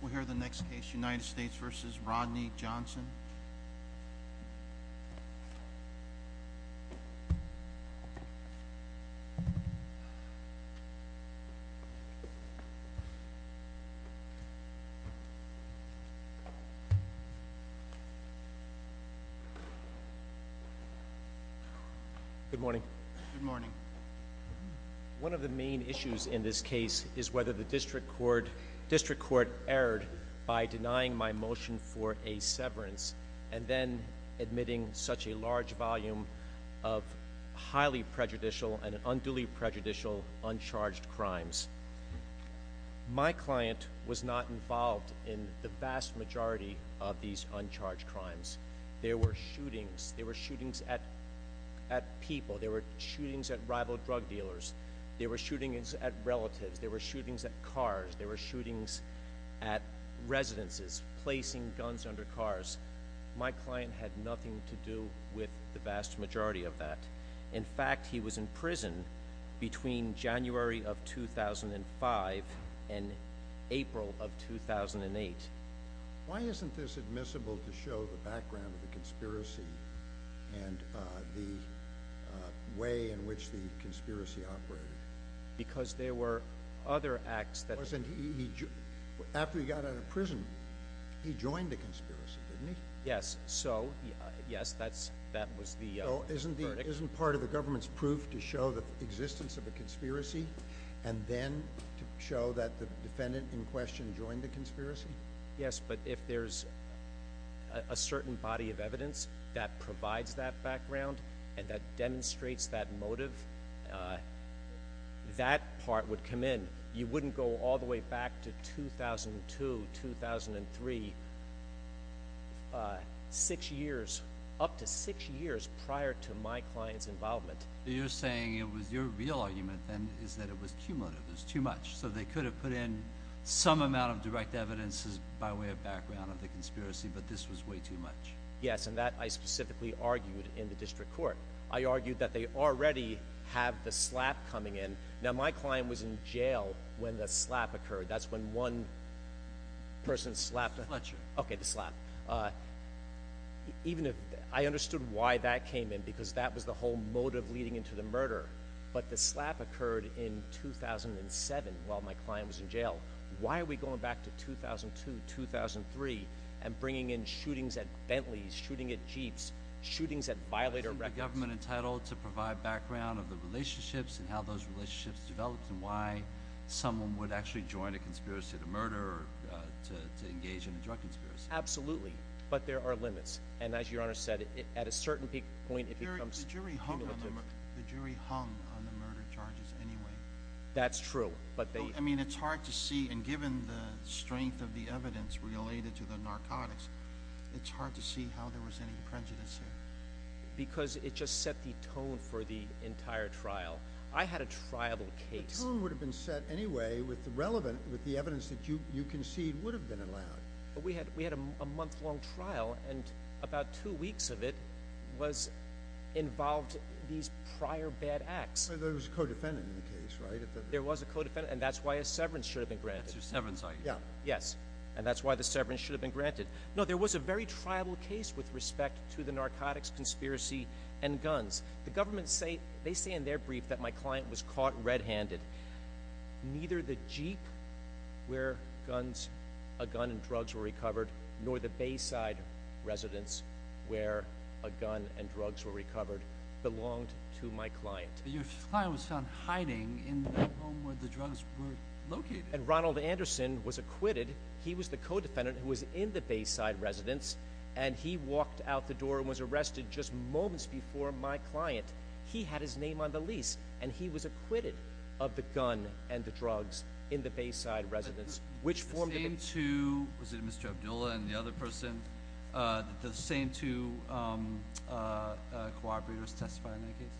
We'll hear the next case, United States v. Rodney Johnson. Good morning. Good morning. One of the main issues in this case is whether the district court erred by denying my motion for a severance and then admitting such a large volume of highly prejudicial and unduly prejudicial uncharged crimes. My client was not involved in the vast majority of these uncharged crimes. There were shootings. There were shootings at people. There were shootings at rival drug dealers. There were shootings at relatives. There were shootings at cars. There were shootings at residences, placing guns under cars. My client had nothing to do with the vast majority of that. In fact, he was in prison between January of 2005 and April of 2008. And the way in which the conspiracy operated. After he got out of prison, he joined the conspiracy, didn't he? So isn't part of the government's proof to show the existence of a conspiracy and then to show that the defendant in question joined the conspiracy? Yes, but if there's a certain body of evidence that provides that background and that demonstrates that motive, that part would come in. You wouldn't go all the way back to 2002, 2003, six years, up to six years prior to my client's involvement. You're saying your real argument then is that it was cumulative. It was too much. So they could have put in some amount of direct evidence by way of background of the conspiracy, but this was way too much. Yes, and that I specifically argued in the district court. I argued that they already have the slap coming in. Now, my client was in jail when the slap occurred. That's when one person slapped him. I understood why that came in because that was the whole motive leading into the murder. But the slap occurred in 2007 while my client was in jail. Why are we going back to 2002, 2003 and bringing in shootings at Bentleys, shooting at Jeeps, shootings at violator records? Isn't the government entitled to provide background of the relationships and how those relationships developed and why someone would actually join a conspiracy to murder or to engage in a drug conspiracy? Absolutely. But there are limits, and as Your Honor said, at a certain point it becomes cumulative. The jury hung on the murder charges anyway. That's true. I mean, it's hard to see, and given the strength of the evidence related to the narcotics, it's hard to see how there was any prejudice here. Because it just set the tone for the entire trial. I had a trial case. The tone would have been set anyway with the relevant, with the evidence that you concede would have been allowed. We had a month-long trial, and about two weeks of it involved these prior bad acts. There was a co-defendant in the case, right? There was a co-defendant, and that's why a severance should have been granted. That's your severance, I assume. Yes, and that's why the severance should have been granted. No, there was a very tribal case with respect to the narcotics conspiracy and guns. The government, they say in their brief that my client was caught red-handed. Neither the Jeep where a gun and drugs were recovered, nor the Bayside Residence where a gun and drugs were recovered belonged to my client. Your client was found hiding in the home where the drugs were located. And Ronald Anderson was acquitted. He was the co-defendant who was in the Bayside Residence, and he walked out the door and was arrested just moments before my client. He had his name on the lease, and he was acquitted of the gun and the drugs in the Bayside Residence, which formed a... The same two, was it Mr. Abdullah and the other person? The same two cooperators testify in that case?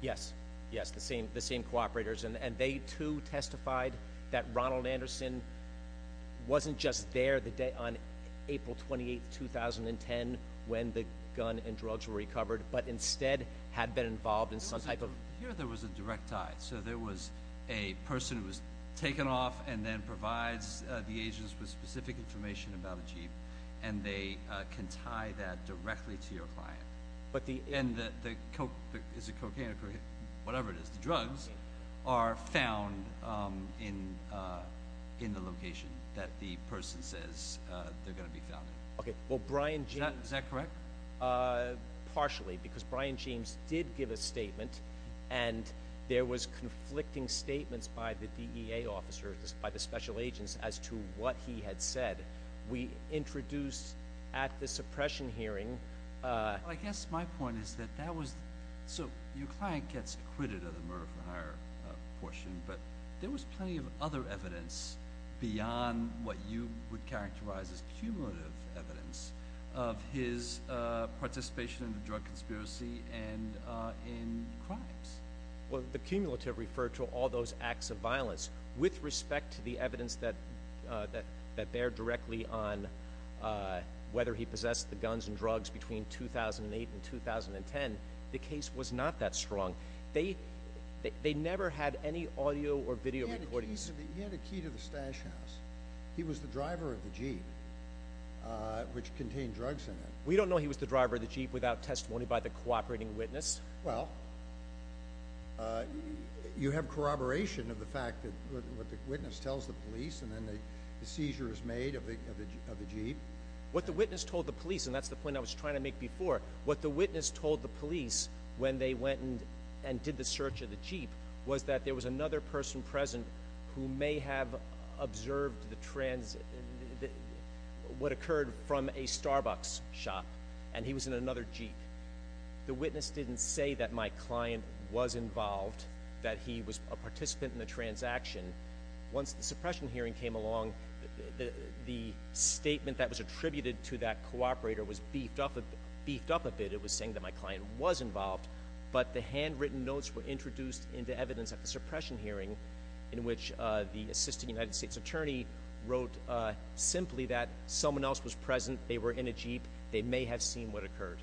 Yes. Yes, the same cooperators. And they too testified that Ronald Anderson wasn't just there the day on April 28, 2010 when the gun and drugs were recovered, but instead had been involved in some type of... Here there was a direct tie. So there was a person who was taken off and then provides the agents with specific information about the jeep, and they can tie that directly to your client. And the cocaine, whatever it is, the drugs, are found in the location that the person says they're going to be found in. Is that correct? Partially, because Brian James did give a statement and there was conflicting statements by the DEA officers, by the special agents, as to what he had said. We introduced at the suppression hearing... I guess my point is that that was... So your client gets acquitted of the murder-for-hire portion, but there was plenty of other evidence beyond what you would characterize as cumulative evidence of his participation in the drug conspiracy and in crimes. Well, the cumulative referred to all those acts of violence. With respect to the evidence that there directly on whether he possessed the guns and drugs between 2008 and 2010, the case was not that strong. They never had any audio or video recordings. He had a key to the stash house. He was the driver of the jeep, which contained drugs in it. We don't know he was the driver of the jeep without testimony by the cooperating witness. Well, you have corroboration of the fact that what the witness tells the police, and then the seizure is made of the jeep. What the witness told the police, and that's the point I was trying to make before, what the witness told the police when they went and did the search of the jeep was that there was another person present who may have observed the trans... what occurred from a Starbucks shop, and he was in another jeep. The witness didn't say that my client was involved, that he was a participant in the transaction. Once the suppression hearing came along, the statement that was attributed to that cooperator was beefed up a bit. It was saying that my client was involved, but the handwritten notes were introduced into evidence at the suppression hearing in which the assistant United States attorney wrote simply that someone else was present, they were in a jeep, they may have seen what occurred.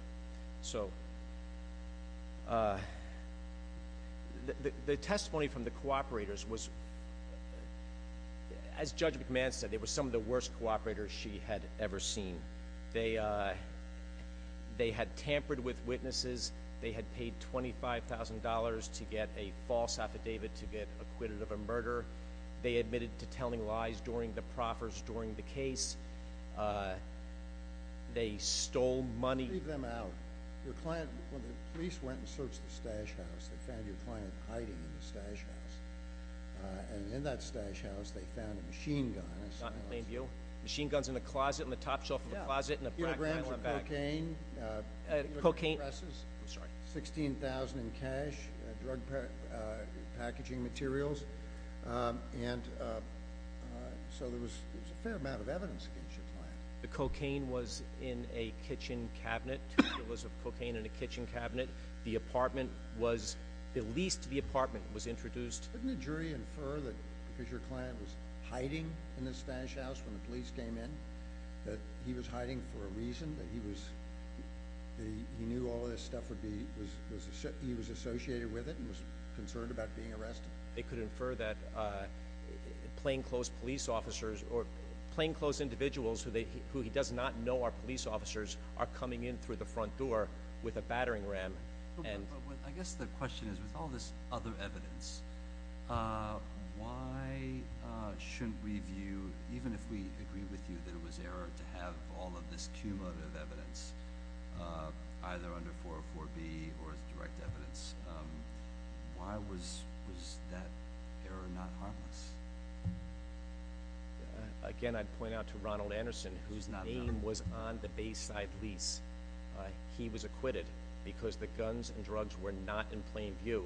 The testimony from the cooperators was as Judge McMahon said, they were some of the worst cooperators she had ever seen. They had tampered with witnesses, they had paid $25,000 to get a false affidavit to get acquitted of a murder, they admitted to telling lies during the proffers during the case, they stole money... When the police went and searched the stash house, they found your client hiding in the stash house, and in that stash house they found a machine gun. Machine guns in the closet, in the top shelf of the closet, in the back. 16,000 in cash, packaging materials, and so there was a fair amount of evidence against your client. The cocaine was in a kitchen cabinet, there was cocaine in a kitchen cabinet, the apartment was, at least the apartment was introduced. Couldn't a jury infer that because your client was hiding in the stash house when the police came in, that he was hiding for a reason, that he knew all of this stuff would be he was associated with it and was concerned about being arrested? They could infer that plainclothes police officers or plainclothes individuals who he does not know are police officers are coming in through the front door with a battering ram. I guess the question is, with all this other evidence, why shouldn't we view, even if we agree with you that it was error to have all of this cumulative evidence either under 404B or as direct evidence, why was that error not harmless? Again, I'd point out to Ronald Anderson, whose name was on the Bayside lease. He was acquitted because the guns and drugs were not in plain view.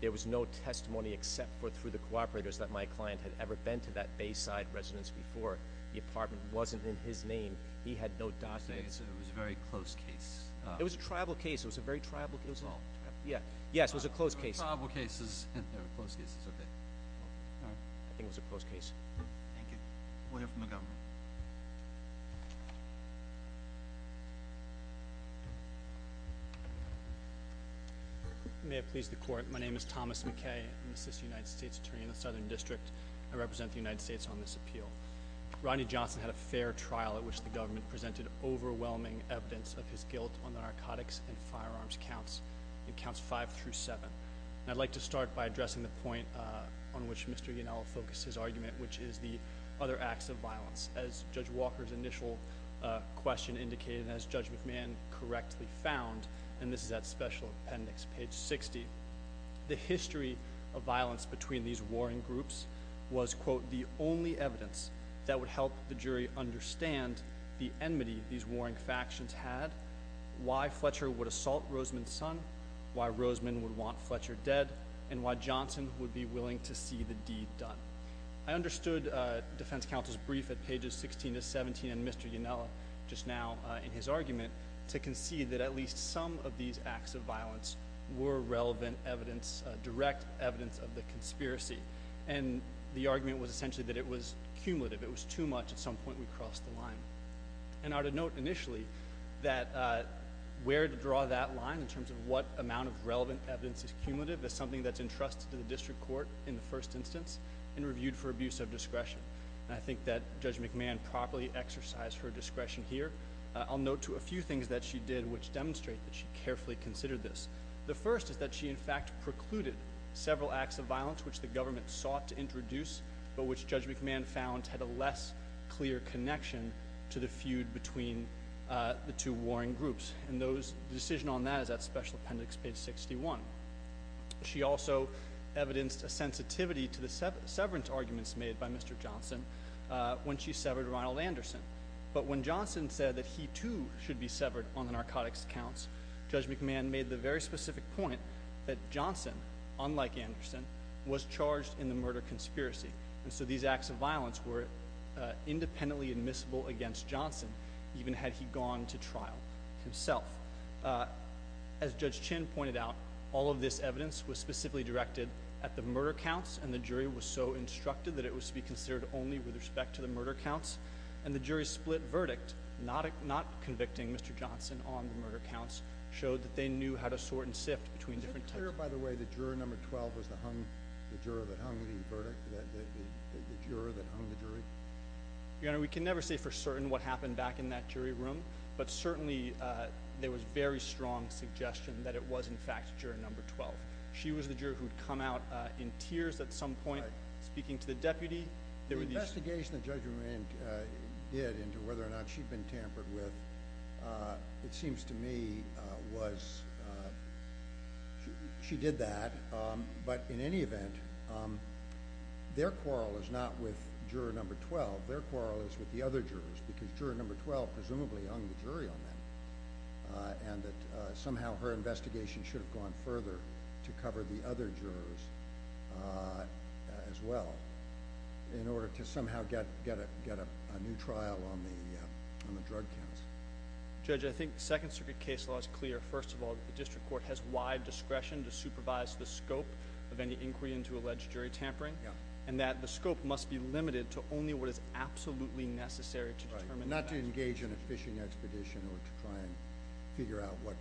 There was no testimony except for through the cooperators that my client had ever been to that Bayside residence before. The apartment wasn't in his name. He had no documents. So it was a very close case. It was a tribal case. It was a very tribal case. Yes, it was a close case. I think it was a close case. Thank you. We'll hear from the government. May it please the Court. My name is Thomas McKay. I'm an assistant United States attorney in the Southern District. I represent the United States on this appeal. Rodney Johnson had a fair trial at which the government presented overwhelming evidence of his guilt on the narcotics and firearms counts in counts five through seven. I'd like to start by addressing the point on which Mr. Yanella focused his argument, which is the other acts of violence. As Judge Walker's initial question indicated, and as Judge McMahon correctly found, and this is at Special Appendix page 60, the history of violence between these warring factions had, why Fletcher would assault Roseman's son, why Roseman would want Fletcher dead, and why Johnson would be willing to see the deed done. I understood Defense Counsel's brief at pages 16 to 17 and Mr. Yanella just now in his argument to concede that at least some of these acts of violence were relevant evidence, direct evidence of the conspiracy. And the argument was essentially that it was cumulative. It was too much. At some point we crossed the line. And I'd note initially that where to draw that line in terms of what amount of relevant evidence is cumulative is something that's entrusted to the District Court in the first instance and reviewed for abuse of discretion. And I think that Judge McMahon properly exercised her discretion here. I'll note to a few things that she did which demonstrate that she carefully considered this. The first is that she in fact precluded several acts of violence which the government sought to introduce but which Judge McMahon found had a less clear connection to the feud between the two warring groups. And the decision on that is at Special Appendix page 61. She also evidenced a sensitivity to the severance arguments made by Mr. Johnson when she severed Ronald Anderson. But when Johnson said that he too should be severed on the narcotics accounts, Judge McMahon made the very specific point that Johnson, unlike Anderson, was charged in the murder conspiracy. And so these acts of violence were independently admissible against Johnson even had he gone to trial himself. As Judge Chin pointed out, all of this evidence was specifically directed at the murder counts and the jury was so instructed that it was to be considered only with respect to the murder counts. And the jury's split verdict, not convicting Mr. Johnson on the murder counts, showed that they knew how to sort and sift between different types. Was it clear, by the way, that juror number 12 was the juror that hung the verdict? The juror that hung the jury? Your Honor, we can never say for certain what happened back in that jury room, but certainly there was very strong suggestion that it was, in fact, juror number 12. She was the juror who had come out in tears at some point speaking to the deputy. The investigation that Judge McMahon did into whether or not she'd been tampered with, it seems to me, was she did that, but in any event, their quarrel is not with juror number 12. Their quarrel is with the other jurors because juror number 12 presumably hung the jury on them and that somehow her investigation should have gone further to cover the other jurors as well in order to somehow get a new trial on the drug counts. Judge, I think the Second Circuit case law is clear, first of all, that the District Court has wide discretion to supervise the scope of any inquiry into alleged jury tampering and that the scope must be limited to only what is absolutely necessary to determine the facts. Not to engage in a fishing expedition or to try and figure out what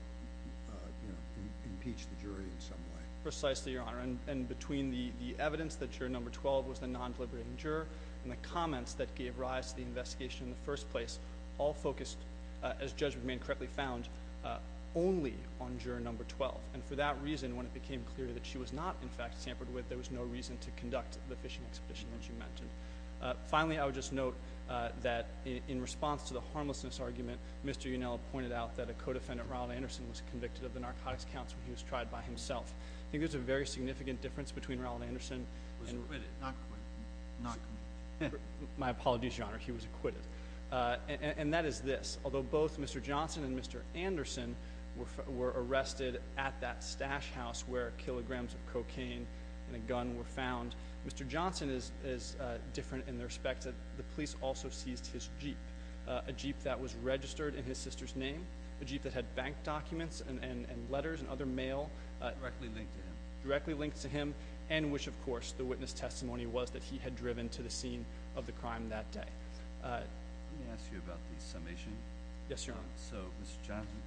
impeached the jury in some way. Precisely, Your Honor. And between the evidence that juror number 12 was the non-deliberating juror and the comments that gave rise to the investigation in the first place, all of that was found only on juror number 12. And for that reason, when it became clear that she was not, in fact, tampered with, there was no reason to conduct the fishing expedition that you mentioned. Finally, I would just note that in response to the harmlessness argument, Mr. Unella pointed out that a co-defendant, Ronald Anderson, was convicted of the narcotics counts when he was tried by himself. I think there's a very significant difference between Ronald Anderson and... He was acquitted, not acquitted. My apologies, Your Honor. He was acquitted. And that is this. Although both Mr. Johnson and Mr. Anderson were arrested at that stash house where kilograms of cocaine and a gun were found, Mr. Johnson is different in the respect that the police also seized his Jeep. A Jeep that was registered in his sister's name. A Jeep that had bank documents and letters and other mail. Directly linked to him. Directly linked to him. And which, of course, the witness testimony was that he had driven to the scene of the crime that day. Let me ask you about the summation. Yes, Your Honor. So, Mr. Johnson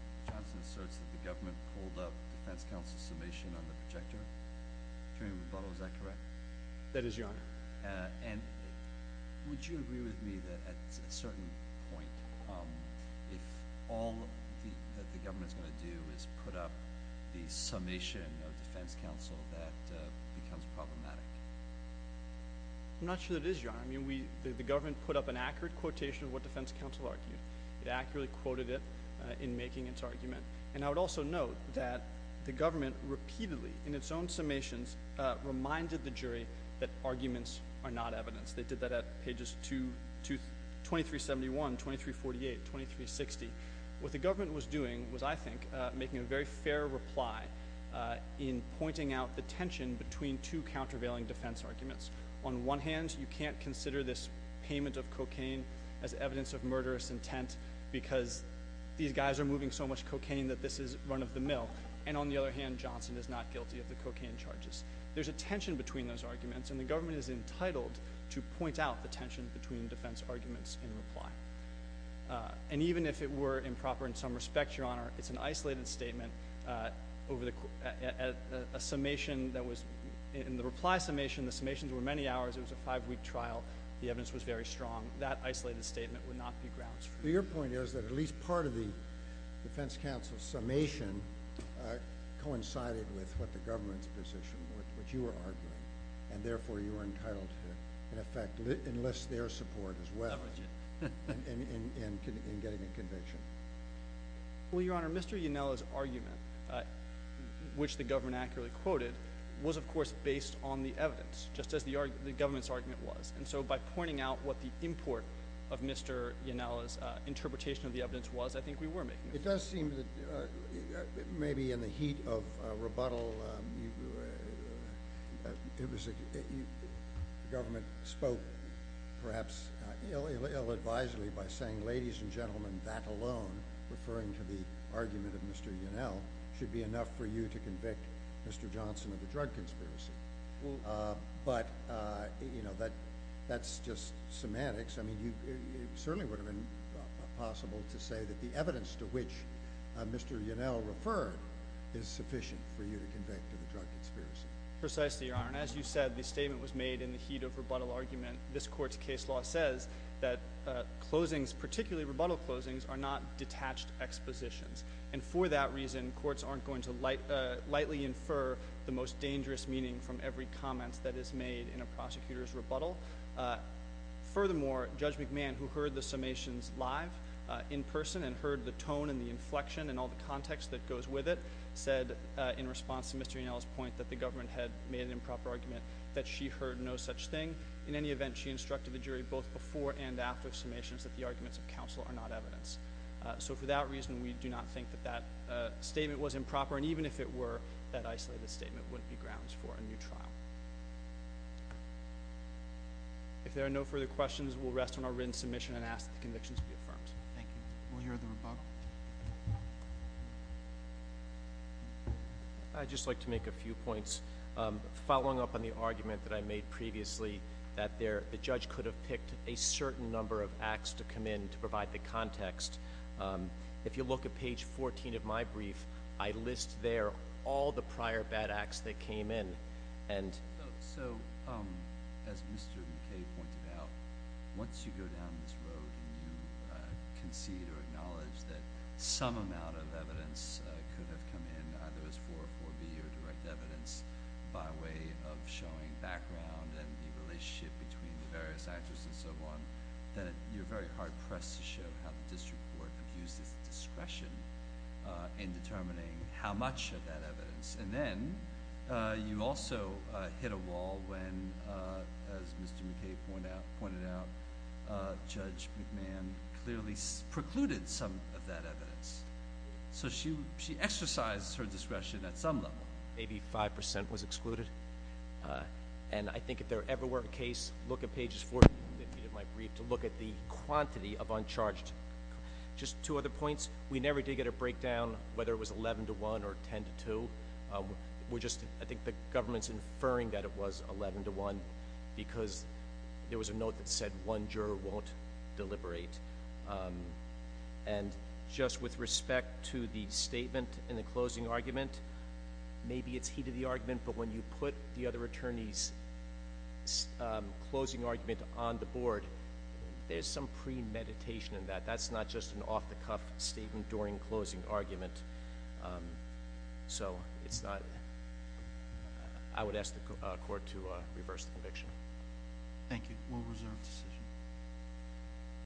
asserts that the government pulled up defense counsel's summation on the projector. Is that correct? That is, Your Honor. And would you agree with me that at a certain point, if all the government is going to do is put up the summation of defense counsel, that becomes problematic? I'm not sure that it is, Your Honor. I mean, the government put up an accurate quotation of what defense counsel argued. It accurately quoted it in making its argument. And I would also note that the government repeatedly, in its own summations, reminded the jury that arguments are not evidence. They did that at pages 2371, 2348, 2360. What the government was doing was, I think, making a very fair reply in pointing out the tension between two countervailing defense arguments. On one hand, you can't consider this payment of cocaine as evidence of murderous intent because these guys are moving so much cocaine that this is run of the mill. And on the other hand, Johnson is not guilty of the cocaine charges. There's a tension between those arguments, and the government is entitled to point out the tension between defense arguments in reply. And even if it were improper in some respects, Your Honor, it's an isolated statement over a summation that was in the reply summation. The summations were many hours. It was a five-week trial. The evidence was very strong. That isolated statement would not be grounds for me. Your point is that at least part of the defense counsel's summation coincided with what the government's position was, which you were arguing. And therefore, you were entitled to, in effect, enlist their support as well in getting a conviction. Well, Your Honor, Mr. Yanella's argument, which the government accurately quoted, was, of course, based on the evidence, just as the government's argument was. And so by pointing out what the import of Mr. Yanella's interpretation of the evidence was, I think we were making a point. It does seem that maybe in the heat of rebuttal, the government spoke perhaps ill-advisedly by saying, ladies and gentlemen, that alone, referring to the argument of Mr. Yanella, should be enough for you to convict Mr. Johnson of the drug conspiracy. But, you know, that's just semantics. I mean, it certainly would have been possible to say that the evidence to which Mr. Yanella referred is sufficient for you to convict of the drug conspiracy. Precisely, Your Honor. And as you said, the statement was made in the heat of rebuttal argument. This Court's case law says that closings, particularly rebuttal closings, are not detached expositions. And for that reason, courts aren't going to lightly infer the most dangerous meaning from every comment that is made in a prosecutor's rebuttal. Furthermore, Judge McMahon, who heard the summations live, in person, and heard the tone and the inflection and all the context that goes with it, said, in response to Mr. Yanella's point that the government had made an improper argument, that she heard no such thing. In any event, she instructed the jury both before and after summations that the arguments of counsel are not evidence. So for that reason, we do not think that that statement was improper. And even if it were, that isolated statement wouldn't be grounds for a new trial. If there are no further questions, we'll rest on our written submission and ask that the convictions be affirmed. Thank you. We'll hear the rebuttal. I'd just like to make a few points. Following up on the argument that I made previously, that the judge could have picked a certain number of acts to come in to provide the context, if you look at page 14 of my brief, I list there all the prior bad acts that came in. As Mr. McKay pointed out, once you go down this road and you concede or acknowledge that some amount of evidence could have come in, either as 404B or direct evidence, by way of showing background and the relationship between the various actors and so on, that you're very hard-pressed to show how the district court abused its discretion in determining how much of that evidence. And then, you also hit a wall when, as Mr. McKay pointed out, Judge McMahon clearly precluded some of that evidence. So she exercised her discretion at some level. Maybe 5% was excluded. And I think if there ever were a case, look at pages 14 of my brief to look at the quantity of uncharged. Just two other points. We never did get a breakdown whether it was 11 to 1 or 10 to 2. I think the government's inferring that it was 11 to 1 because there was a note that said one juror won't deliberate. And just with respect to the closing argument, maybe it's heated the argument, but when you put the other attorney's closing argument on the board, there's some premeditation in that. That's not just an off-the-cuff statement during closing argument. reverse the conviction.